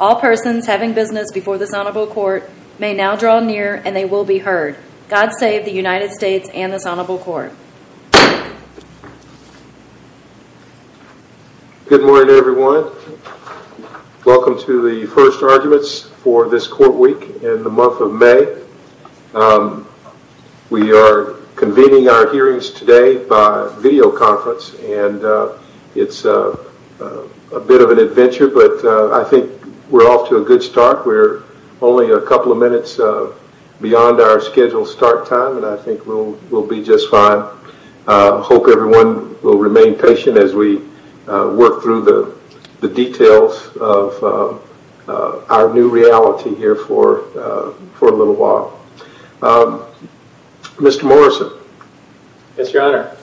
All persons having business before this honorable court may now draw near and they will be heard. God save the United States and this honorable court. Good morning everyone. Welcome to the first arguments for this court week in the month of May. We are convening our hearings today by video conference and it's a bit of an adventure but I think we're off to a good start. We're only a couple of minutes beyond our scheduled start time and I think we'll be just fine. I hope everyone will remain patient as we work through the details of our new reality here for a little while. Mr. Morrison. Yes your honor.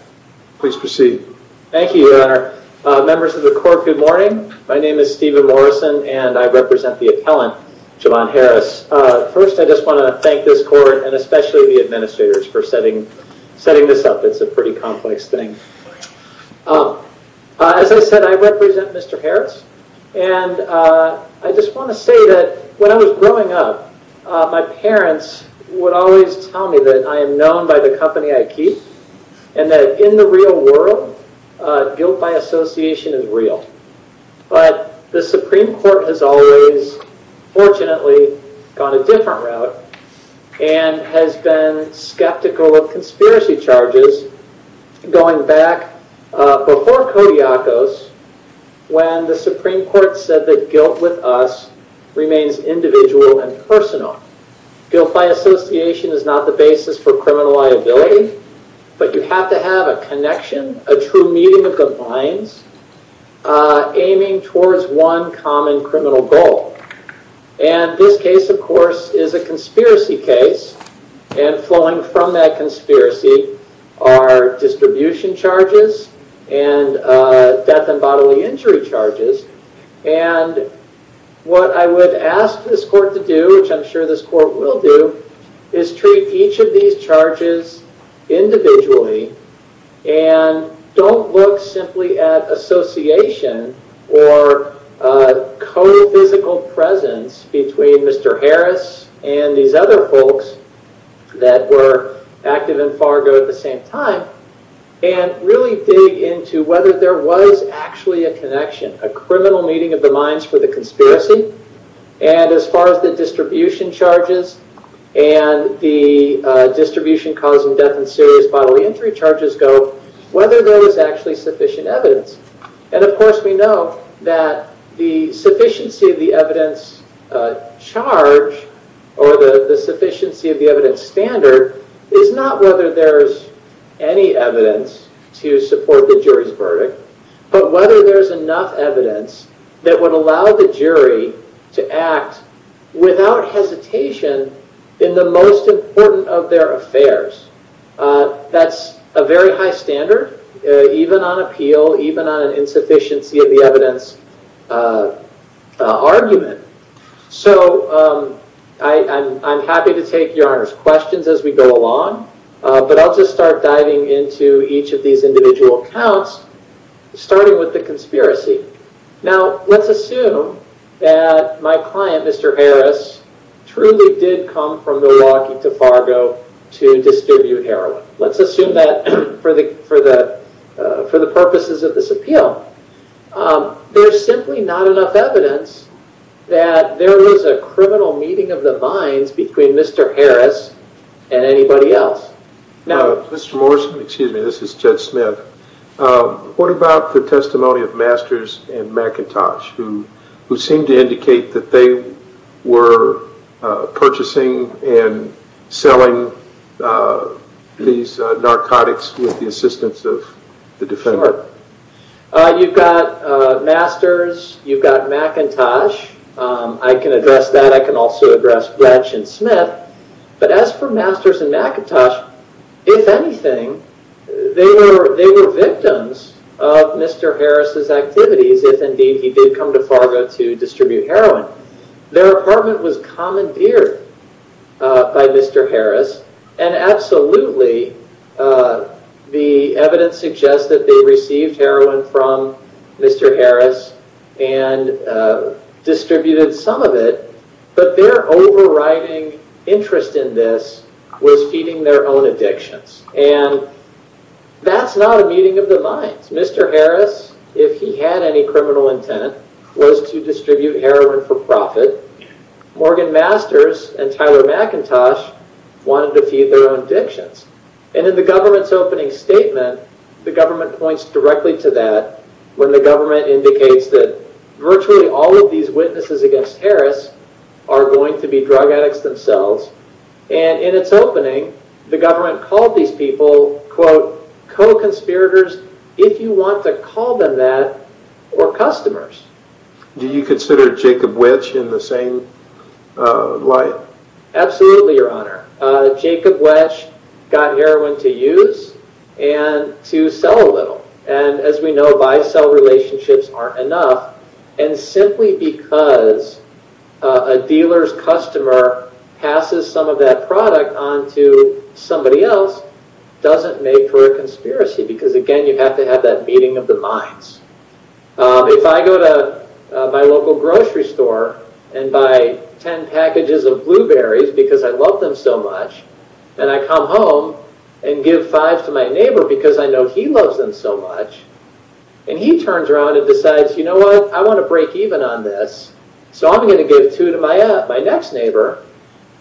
Please proceed. Thank you your honor. Members of the court good morning. My name is Stephen Morrison and I represent the appellant Jovan Harris. First I just want to thank this court and especially the administrators for setting this up. It's a pretty complex thing. As I said I represent Mr. Harris and I just want to say that when I was growing up my parents would always tell me that I am known by the company I keep and that in the real world guilt by association is real. But the Supreme Court has always fortunately gone a different route and has been skeptical of conspiracy charges going back before Kodiakos when the association is not the basis for criminal liability but you have to have a connection a true meeting of the minds aiming towards one common criminal goal. And this case of course is a conspiracy case and flowing from that conspiracy are distribution charges and death and bodily injury charges. And what I would ask this court to do which I'm sure this court will do is treat each of these charges individually and don't look simply at association or co-physical presence between Mr. Harris and these other folks that were active in Fargo at the same time and really dig into whether there was actually a connection a criminal meeting of the minds for the conspiracy and as far as the distribution charges and the distribution causing death and serious bodily injury charges go whether there was actually sufficient evidence. And of course we know that the sufficiency of the evidence charge or the sufficiency of the evidence standard is not whether there is any evidence to support the jury's verdict but whether there is enough evidence that would allow the jury to act without hesitation in the most important of their affairs. That's a very high standard even on appeal even on an insufficiency of the evidence argument. So I'm happy to take your Honor's questions as we go along but I'll just start diving into each of these individual counts starting with the conspiracy. Now let's assume that my client Mr. Harris truly did come from Milwaukee to Fargo to distribute heroin. Let's assume that for the purposes of this appeal there's simply not enough evidence that there was a criminal meeting of the minds between Mr. Harris and anybody else. Now Mr. Morrison, excuse me, this is Judge Smith. What about the testimony of Masters and McIntosh who seemed to indicate that they were purchasing and selling these narcotics with the assistance of the defendant? You've got Masters, you've got McIntosh. I can address that. I can also address Gretch and Smith. But as for Masters and McIntosh, if anything, they were victims of Mr. Harris's activities if indeed he did come to Fargo to distribute heroin. Their apartment was received heroin from Mr. Harris and distributed some of it. But their overriding interest in this was feeding their own addictions. And that's not a meeting of the minds. Mr. Harris, if he had any criminal intent, was to distribute heroin for profit. Morgan Masters and Tyler McIntosh wanted to feed their own addictions. And in the government's opening statement, the government points directly to that when the government indicates that virtually all of these witnesses against Harris are going to be drug addicts themselves. And in its opening, the government called these people, quote, co-conspirators, if you want to call them that, or customers. Do you consider Jacob Wetsch in the same light? Absolutely, your honor. Jacob Wetsch got heroin to use and to sell a little. And as we know, buy-sell relationships aren't enough. And simply because a dealer's customer passes some of that product on to somebody else doesn't make for a conspiracy. Because again, you have to have that meeting of the minds. If I go to my local grocery store and buy ten packages of blueberries because I love them so much, and I come home and give five to my neighbor because I know he loves them so much, and he turns around and decides, you know what, I want to break even on this, so I'm going to give two to my next neighbor.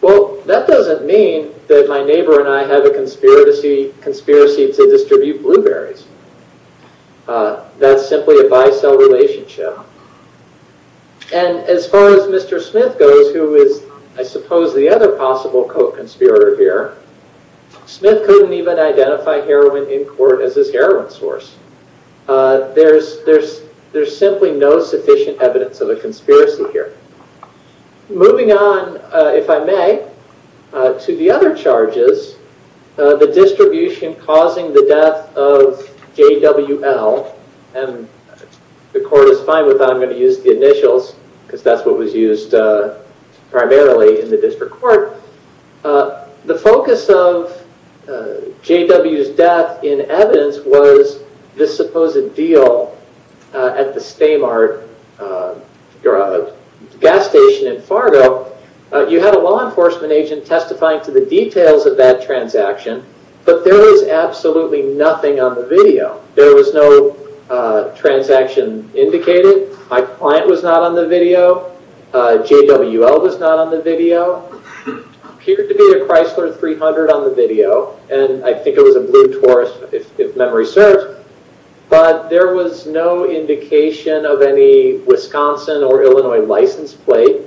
Well, that doesn't mean that my neighbor and I have a conspiracy to distribute blueberries. That's simply a buy-sell relationship. And as far as Mr. Smith goes, who is, I suppose, the other possible co-conspirator here, Smith couldn't even identify heroin in court as his heroin source. There's simply no sufficient evidence of a conspiracy here. Moving on, if I may, to the other charges, the distribution causing the death of J.W.L. and the court is fine with that. I'm going to use the initials because that's what was used primarily in the district court. The focus of J.W.'s death in evidence was this gas station in Fargo. You had a law enforcement agent testifying to the details of that transaction, but there was absolutely nothing on the video. There was no transaction indicated. My client was not on the video. J.W.L. was not on the video. There appeared to be a Chrysler 300 on the video, and I think it was a blue Taurus, if memory serves, but there was no indication of any Wisconsin or Illinois license plate.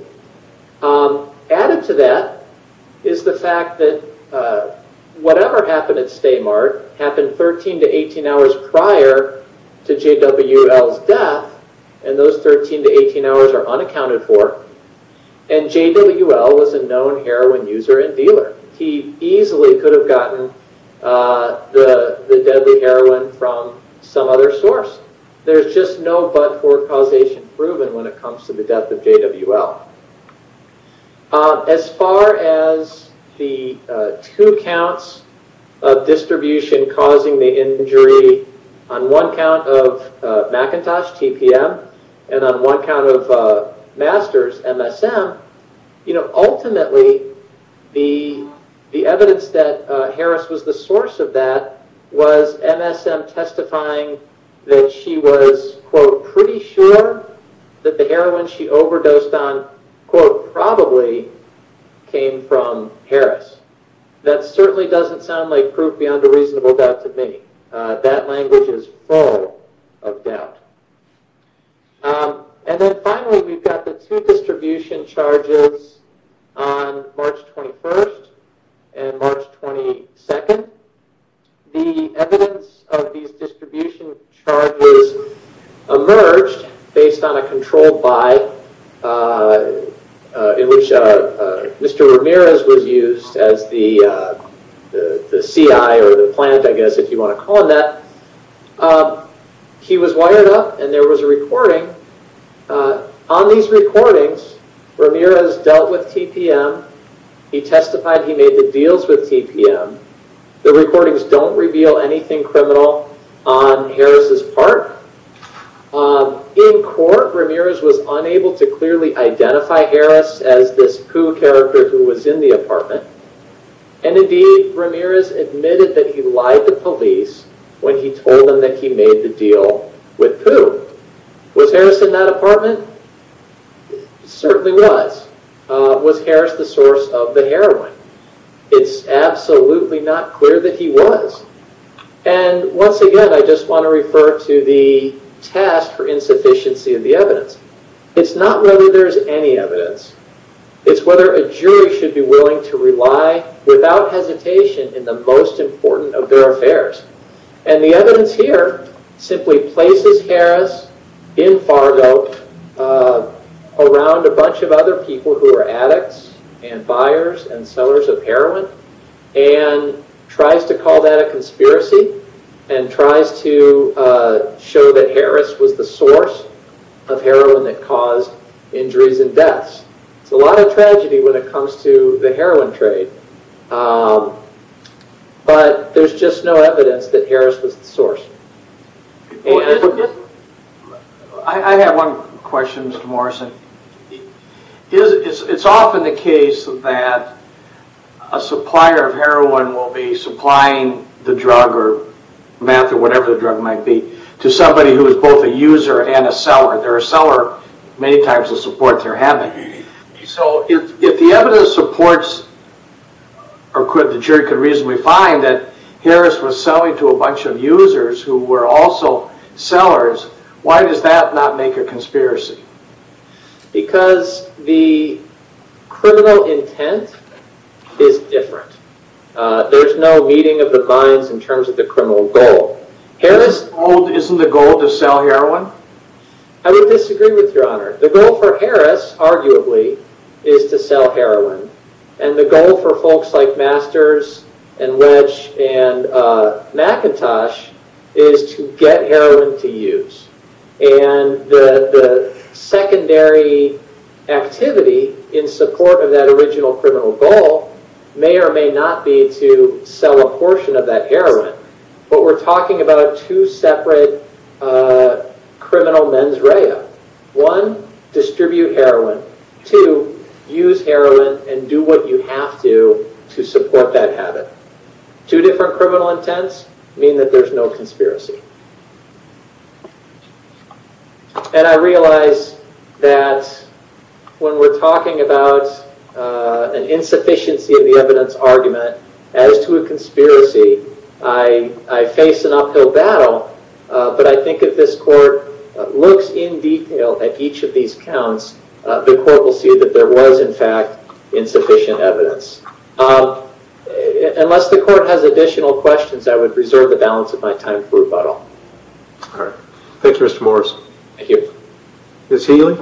Added to that is the fact that whatever happened at Stay Mart happened 13 to 18 hours prior to J.W.L.'s death, and those 13 to 18 hours are unaccounted for, and J.W.L. was a known heroin user and dealer. He easily could have gotten the deadly heroin from some other source. There's just no but for causation proven when it comes to the death of J.W.L. As far as the two counts of distribution causing the injury on one count of McIntosh, TPM, and on one count of Masters, MSM, ultimately the evidence that Harris was the source of that was MSM testifying that she was, quote, pretty sure that the heroin she overdosed on, quote, probably came from Harris. That certainly doesn't sound like proof beyond a reasonable doubt to me. That language is full of doubt. Then finally, we've got the two distribution charges on March 21st and March 22nd. The evidence of these distribution charges emerged based on a control buy in which Mr. Ramirez was used as the CI or the plant, I guess, if you want to call him that. He was wired up and there was a recording. On these recordings, Ramirez dealt with TPM. He testified he made the deals with TPM. The recordings don't reveal anything criminal on Harris' part. In court, Ramirez was unable to clearly identify Harris as this poo character who was in the apartment. Indeed, Ramirez admitted he lied to police when he told them he made the deal with poo. Was Harris in that apartment? Certainly was. Was Harris the source of the heroin? It's absolutely not clear that he was. Once again, I just want to refer to the test for insufficiency of the evidence. It's not whether there's any evidence. It's whether a jury should be willing to rely without hesitation in the most important of their affairs. The evidence here simply places Harris in Fargo around a bunch of other people who are addicts and buyers and sellers of heroin and tries to call that a conspiracy and tries to show that Harris was the source of heroin that caused injuries and deaths. It's a lot of tragedy when it comes to the heroin trade, but there's just no evidence that Harris was the source. I have one question, Mr. Morrison. It's often the case that a supplier of heroin will be supplying the drug or meth or whatever the drug might be to somebody who is both a user and a seller. They're a seller many times the support they're having. If the evidence supports or the jury could reasonably find that Harris was selling to a bunch of users who were also sellers, why does that not make a conspiracy? Because the criminal intent is different. There's no meeting of the minds in terms of the criminal goal. Isn't the goal to sell heroin? I would disagree with your honor. The goal for Harris, arguably, is to sell heroin. And the goal for folks like Masters and Wedge and McIntosh is to get heroin to use. And the secondary activity in support of that original criminal goal may or may not be to sell a portion of that heroin, but we're talking about two separate criminal mens rea. One, distribute heroin. Two, use heroin and do what you have to to support that habit. Two different criminal intents mean that there's no conspiracy. And I realize that when we're talking about an insufficiency of the evidence argument, as to a conspiracy, I face an uphill battle. But I think if this court looks in detail at each of these counts, the court will see that there was, in fact, insufficient evidence. Unless the court has additional questions, I would reserve the balance of my time for rebuttal. Thank you, Mr. Morris. Thank you. Ms. Healy?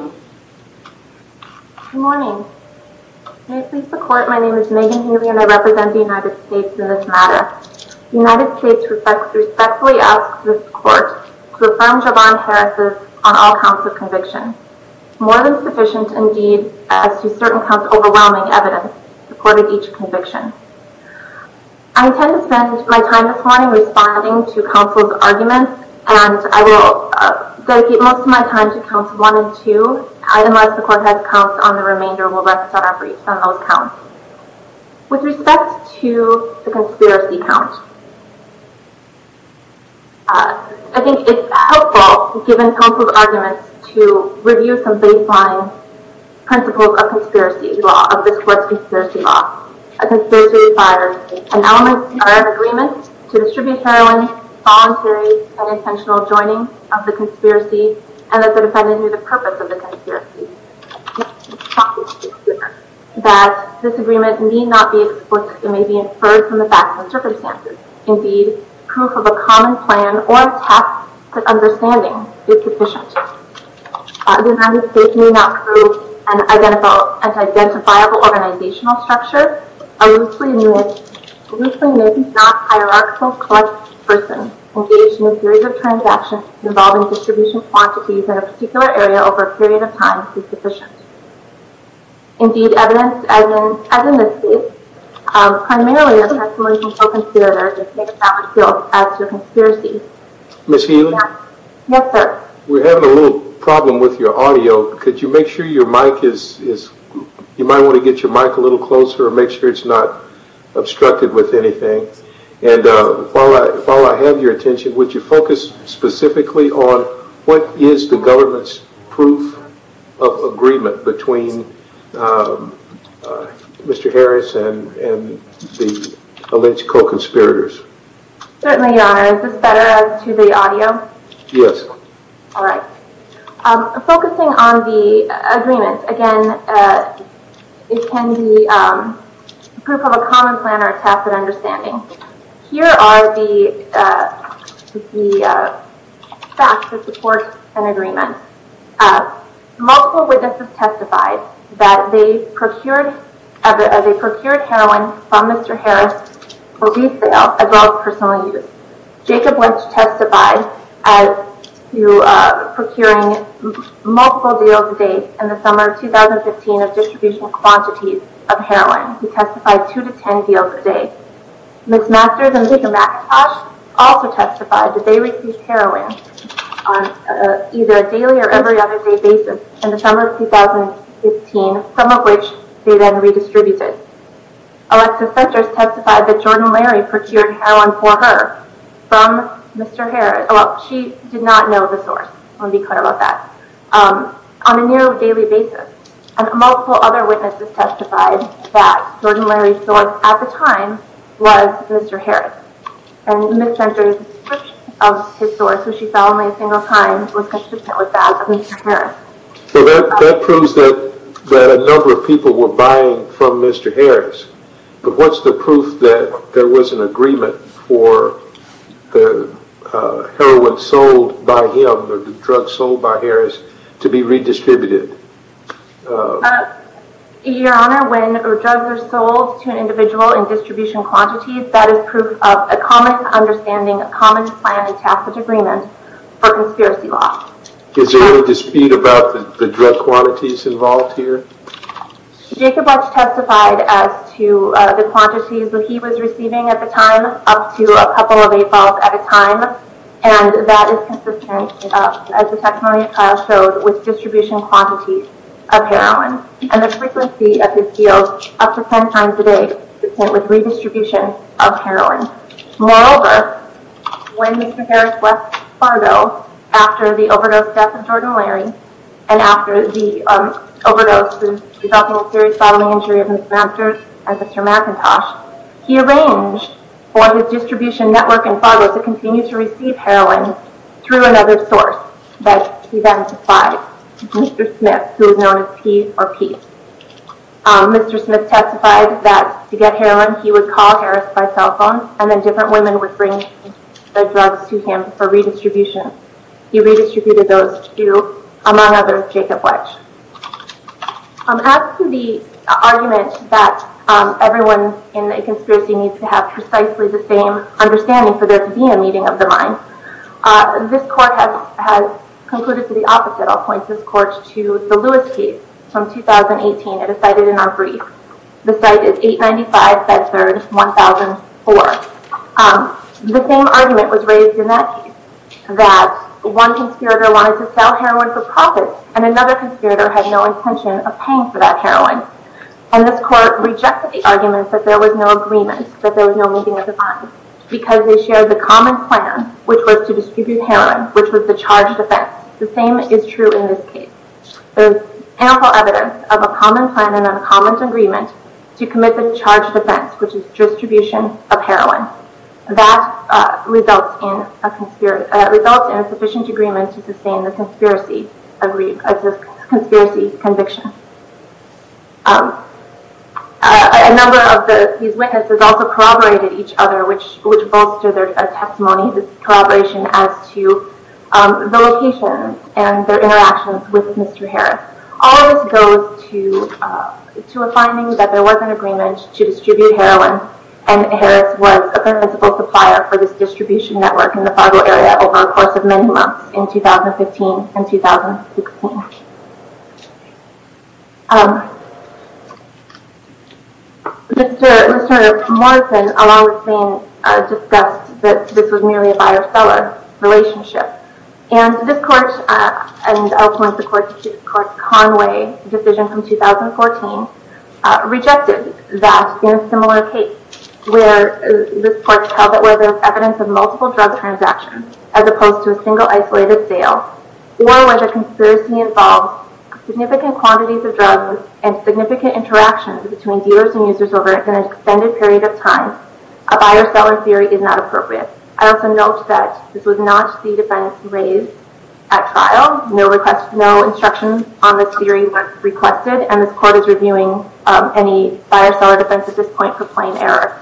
Good morning. May it please the court, my name is Megan Healy and I represent the United States in this matter. The United States respectfully asks this court to affirm Javon Harris' on all counts of conviction. More than sufficient, indeed, as to certain counts overwhelming evidence supporting each conviction. I intend to spend my time this morning responding to counsel's arguments and I will dedicate most of my time to counts one and two. Unless the court has counts on the remainder, we'll rest on those counts. With respect to the conspiracy count, I think it's helpful, given counsel's arguments, to review some baseline principles of conspiracy law, A conspiracy requires an element or an agreement to distribute heroin, voluntary and intentional joining of the conspiracy, and that the defendant knew the purpose of the conspiracy. That this agreement need not be explicit, it may be inferred from the facts and circumstances. Indeed, proof of a common plan or a tacit understanding is sufficient. The United States need not prove an identifiable organizational structure a loosely-made non-hierarchical collective person engaged in a series of transactions involving distribution quantities in a particular area over a period of time is sufficient. Indeed, evidence as in this case, primarily a testimony from a conspirator, does not reveal as to a conspiracy. Ms. Healy? Yes, sir? We're having a little problem with your audio. Could you make sure your mic is... You might want to get your mic a little closer and make sure it's not obstructed with anything. And while I have your attention, would you focus specifically on what is the government's proof of agreement between Mr. Harris and the alleged co-conspirators? Certainly, Your Honor. Is this better as to the audio? Yes. All right. Focusing on the agreement, again, it can be proof of a common plan or a tacit understanding. Here are the facts that support an agreement. Multiple witnesses testified that they procured heroin from Mr. Harris for resale as well as personal use. Jacob Lynch testified as to procuring multiple deals a day in the summer of 2015 of distributional quantities of heroin. He testified two to ten deals a day. Ms. Masters and Mr. McIntosh also testified that they received heroin on either a daily or every other day basis in the summer of 2015, some of which they then redistributed. Alexis Fenters testified that Jordan Larry procured heroin for her from Mr. Harris. She did not know the source. I want to be clear about that. On a near daily basis. Multiple other witnesses testified that Jordan Larry's source at the time was Mr. Harris. And Ms. Fenters' description of his source, which she saw only a single time, was consistent with that of Mr. Harris. So that proves that a number of people were buying from Mr. Harris. But what's the proof that there was an agreement for the heroin sold by him, or the drugs sold by Harris, to be redistributed? Your Honor, when drugs are sold to an individual in distribution quantities, that is proof of a common understanding, a common plan, and tacit agreement for conspiracy law. Is there any dispute about the drug quantities involved here? Jacob Walsh testified as to the quantities that he was receiving at the time, up to a couple of eight bottles at a time. And that is consistent, as the testimony of Kyle showed, with distribution quantities of heroin. And the frequency of his deal, up to ten times a day, is consistent with redistribution of heroin. Moreover, when Mr. Harris left Fargo after the overdose death of Jordan Larry, and after the overdose resulting in serious bodily injury of Ms. Fenters and Mr. McIntosh, he arranged for his distribution network in Fargo to continue to receive heroin through another source that he then supplied, Mr. Smith, who is known as P or Peace. Mr. Smith testified that to get heroin, he would call Harris by cell phone, and then different women would bring the drugs to him for redistribution. He redistributed those to, among others, Jacob Walsh. As to the argument that everyone in a conspiracy needs to have precisely the same understanding for there to be a meeting of the mind, this court has concluded to the opposite. I'll point this court to the Lewis case from 2018. It is cited in our brief. The site is 895 Bedford, 1004. The same argument was raised in that case, that one conspirator wanted to sell heroin for profit, and another conspirator had no intention of paying for that heroin. And this court rejected the argument that there was no agreement, that there was no meeting of the mind, because they shared the common plan, which was to distribute heroin, which was the charged offense. The same is true in this case. There's ample evidence of a common plan and a common agreement to commit the charged offense, which is distribution of heroin. That results in a sufficient agreement to sustain the conspiracy conviction. A number of these witnesses also corroborated each other, which bolstered their testimony, this corroboration as to the location and their interactions with Mr. Harris. All of this goes to a finding that there was an agreement to distribute heroin, and Harris was a principal supplier for this distribution network in the Fargo area over the course of many months in 2015 and 2016. Mr. Morrison, along with Zane, discussed that this was merely a buyer-seller relationship. And this court, and also in support of the court's Conway decision from 2014, rejected that in a similar case, where this court held that there was evidence of multiple drug transactions as opposed to a single isolated sale, significant quantities of drugs, and significant interactions between dealers and users over an extended period of time, a buyer-seller theory is not appropriate. I also note that this was not the defense raised at trial. No instructions on this theory were requested, and this court is reviewing any buyer-seller defense at this point for plain error.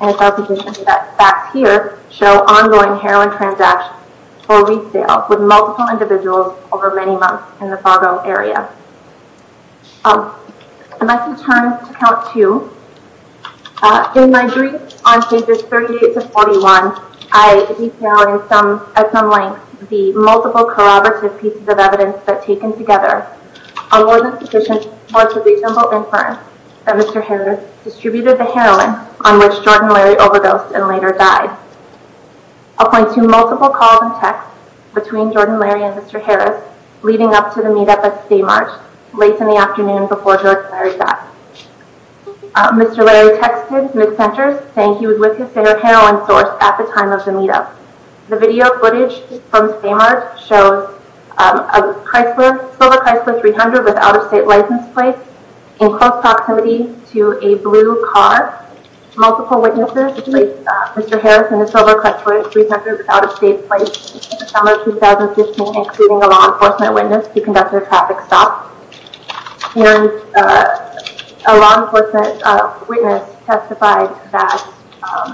And it's also important to note that facts here show ongoing heroin transactions or resales with multiple individuals over many months in the Fargo area. I must return to count two. In my brief on pages 38-41, I detail at some length the multiple corroborative pieces of evidence that, taken together, are more than sufficient for the reasonable inference that Mr. Harris distributed the heroin on which Jordan Larry overdosed and later died. I'll point to multiple calls and texts between Jordan Larry and Mr. Harris leading up to the meet-up at Stamart late in the afternoon before Jordan Larry died. Mr. Larry texted mid-senters saying he was with his favorite heroin source at the time of the meet-up. The video footage from Stamart shows a silver Chrysler 300 with an out-of-state license plate in close proximity to a blue car. Multiple witnesses believe Mr. Harris and the silver Chrysler 300 was out-of-state plates in the summer of 2015, including a law enforcement witness who conducted a traffic stop. A law enforcement witness testified that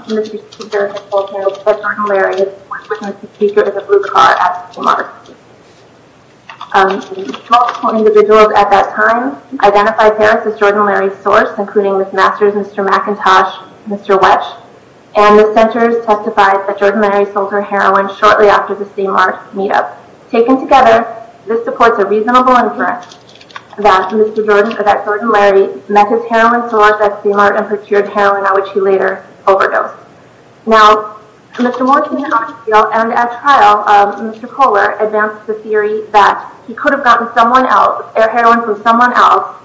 Mr. Speaker had told him that Jordan Larry was with Mr. Speaker in the blue car at Stamart. Multiple individuals at that time identified Harris as Jordan Larry's source, including Ms. Masters, Mr. McIntosh, Mr. Wetsch, and mid-senters testified that Jordan Larry sold her heroin shortly after the Stamart meet-up. Taken together, this supports a reasonable inference that Jordan Larry met his heroin source at Stamart and procured heroin on which he later overdosed. Now, Mr. Morrison and I feel, and at trial, Mr. Kohler advanced the theory that he could have gotten heroin from someone else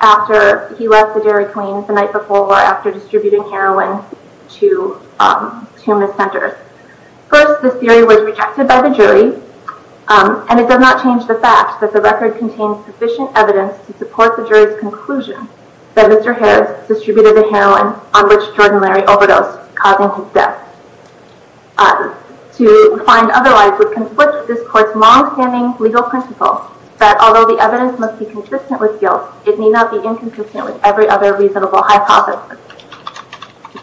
after he left the Dairy Queen the night before or after distributing heroin to two mis-senters. First, this theory was rejected by the jury, and it does not change the fact that the record contains sufficient evidence to support the jury's conclusion that Mr. Harris distributed the heroin on which Jordan Larry overdosed, causing his death. To find otherwise would conflict this court's long-standing legal principle that although the evidence must be consistent with guilt, it may not be inconsistent with every other reasonable hypothesis.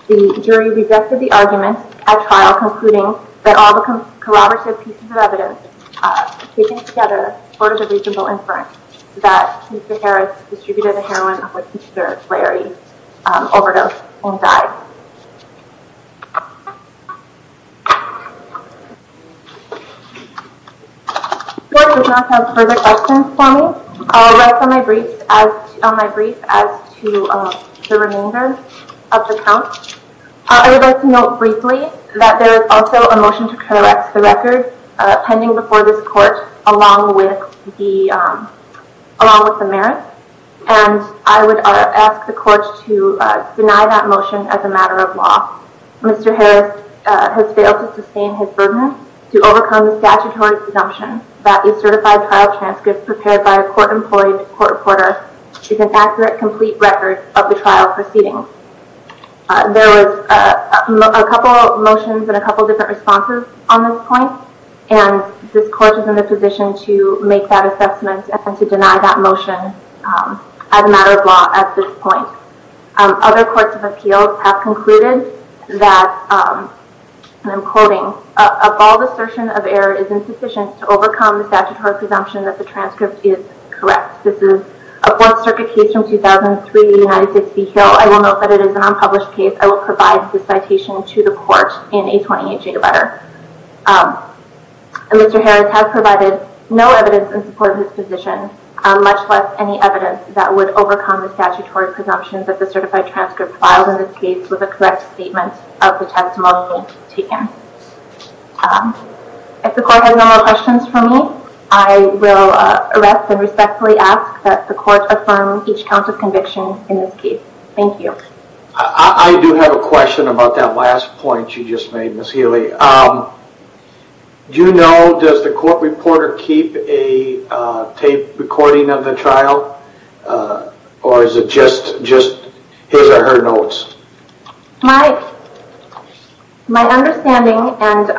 The jury rejected the argument at trial, concluding that all the corroborative pieces of evidence taken together supported the reasonable inference that Mr. Harris distributed the heroin on which Mr. Larry overdosed and died. The court does not have further questions for me. I will rest on my brief as to the remainder of the count. I would like to note briefly that there is also a motion to correct the record pending before this court along with the merits, and I would ask the court to deny that motion as a matter of law. Mr. Harris has failed to sustain his burden to overcome the statutory presumption that the certified trial transcript prepared by a court-employed court reporter is an accurate, complete record of the trial proceedings. There was a couple of motions and a couple of different responses on this point, and this court is in the position to make that assessment and to deny that motion as a matter of law at this point. Other courts of appeals have concluded that, and I'm quoting, a bald assertion of error is insufficient to overcome the statutory presumption that the transcript is correct. This is a Fourth Circuit case from 2003, United States v. Hill. I will note that it is an unpublished case. I will provide this citation to the court in a 28-day letter. Mr. Harris has provided no evidence in support of his position, much less any evidence that would overcome the statutory presumption that the certified transcript filed in this case was a correct statement of the testimony taken. If the court has no more questions for me, I will arrest and respectfully ask that the court affirm each count of conviction in this case. Thank you. I do have a question about that last point you just made, Ms. Healy. Do you know, does the court reporter keep a tape recording of the trial, or is it just his or her notes? My understanding, and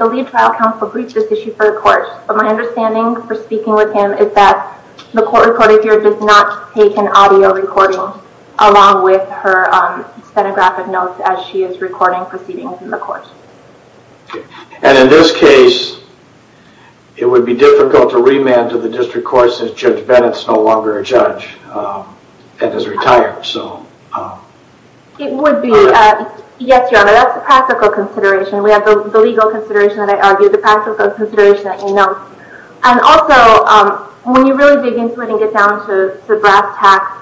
the lead trial counsel briefed this issue for the court, but my understanding for speaking with him is that the court reporter here does not take an audio recording along with her stenographic notes as she is recording proceedings in the court. And in this case, it would be difficult to remand to the district court since Judge Bennett is no longer a judge and has retired. It would be. Yes, Your Honor, that's a practical consideration. We have the legal consideration that I argued, the practical consideration that you know. And also, when you really dig into it and get down to the brass tacks,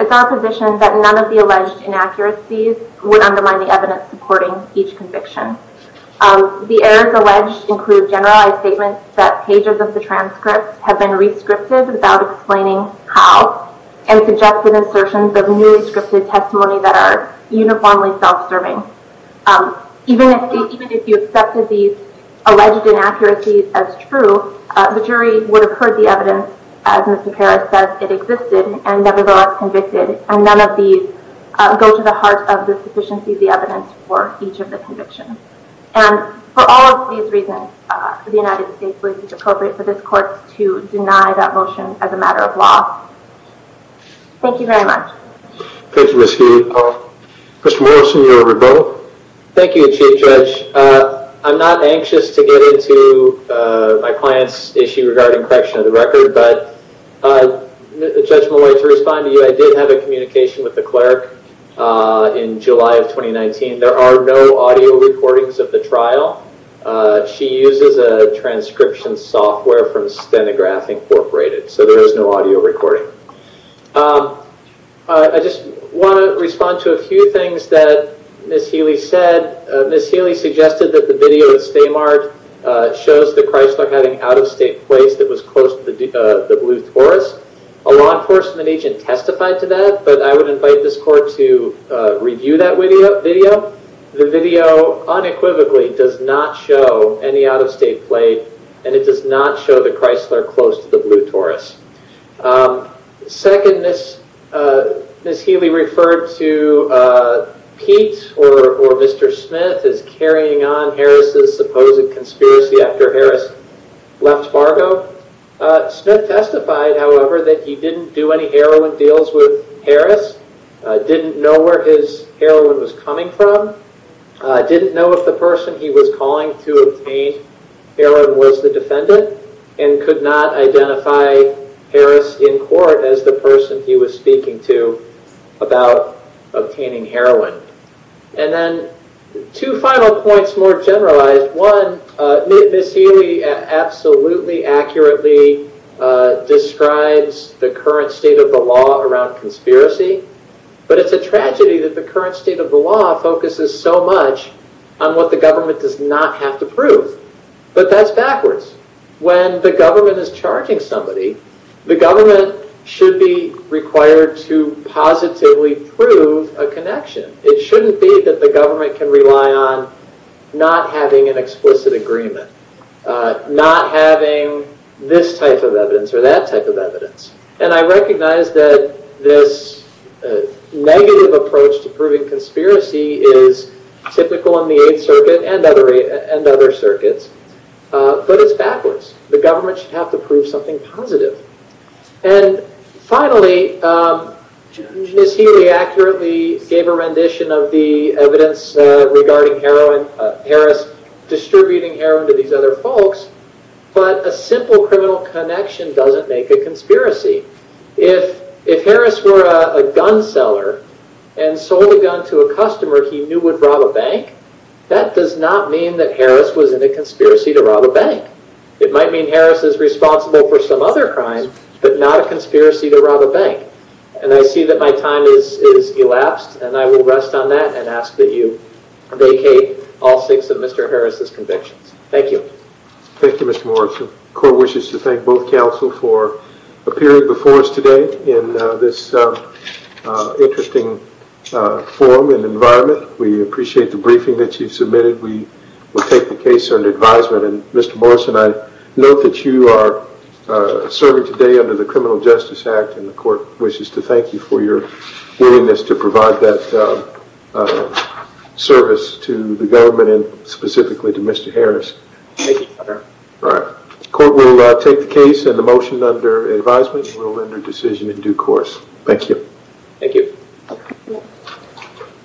it's our position that none of the alleged inaccuracies would undermine the evidence supporting each conviction. The errors alleged include generalized statements that pages of the transcripts have been re-scripted without explaining how, and suggested assertions of newly scripted testimony that are uniformly self-serving. Even if you accepted these alleged inaccuracies as true, the jury would have heard the evidence, as Ms. Nicara says, it existed and nevertheless convicted. And none of these go to the heart of the sufficiency of the evidence for each of the convictions. And for all of these reasons, the United States believes it's appropriate for this court to deny that motion as a matter of law. Thank you very much. Thank you, Ms. Gideon. Mr. Morrison, you are revoked. Thank you, Chief Judge. I'm not anxious to get into my client's issue regarding correction of the record, but Judge Malloy, to respond to you, I did have a communication with the clerk in July of 2019. There are no audio recordings of the trial. She uses a transcription software from Stenograph Incorporated, so there is no audio recording. I just want to respond to a few things that Ms. Healy said. Ms. Healy suggested that the video at Stamart shows the Chrysler having out-of-state plates that was close to the blue Taurus. A law enforcement agent testified to that, but I would invite this court to review that video. The video unequivocally does not show any out-of-state plate, and it does not show the Chrysler close to the blue Taurus. Second, Ms. Healy referred to Pete or Mr. Smith as carrying on Harris' supposed conspiracy after Harris left Fargo. Smith testified, however, that he didn't do any heroin deals with Harris, didn't know where his heroin was coming from, didn't know if the person he was calling to obtain heroin was the defendant, and could not identify Harris in court as the person he was speaking to about obtaining heroin. And then two final points more generalized. One, Ms. Healy absolutely accurately describes the current state of the law around conspiracy, but it's a tragedy that the current state of the law focuses so much on what the government does not have to prove. But that's backwards. When the government is charging somebody, the government should be required to positively prove a connection. It shouldn't be that the government can rely on not having an explicit agreement, not having this type of evidence or that type of evidence. And I recognize that this negative approach to proving conspiracy is typical in the Eighth Circuit and other circuits, but it's backwards. The government should have to prove something positive. And finally, Ms. Healy accurately gave a rendition of the evidence regarding Harris distributing heroin to these other folks, but a simple criminal connection doesn't make a conspiracy. If Harris were a gun seller and sold a gun to a customer he knew would rob a bank, that does not mean that Harris was in a conspiracy to rob a bank. It might mean Harris is responsible for some other crime, but not a conspiracy to rob a bank. And I see that my time has elapsed, and I will rest on that and ask that you vacate all six of Mr. Harris' convictions. Thank you. Thank you, Mr. Morrison. Court wishes to thank both counsel for appearing before us today in this interesting forum and environment. We appreciate the briefing that you've submitted. We will take the case under advisement. And Mr. Morrison, I note that you are serving today under the Criminal Justice Act, and the court wishes to thank you for your willingness to provide that service to the government and specifically to Mr. Harris. Thank you. The court will take the case and the motion under advisement and will render decision in due course. Thank you. Thank you.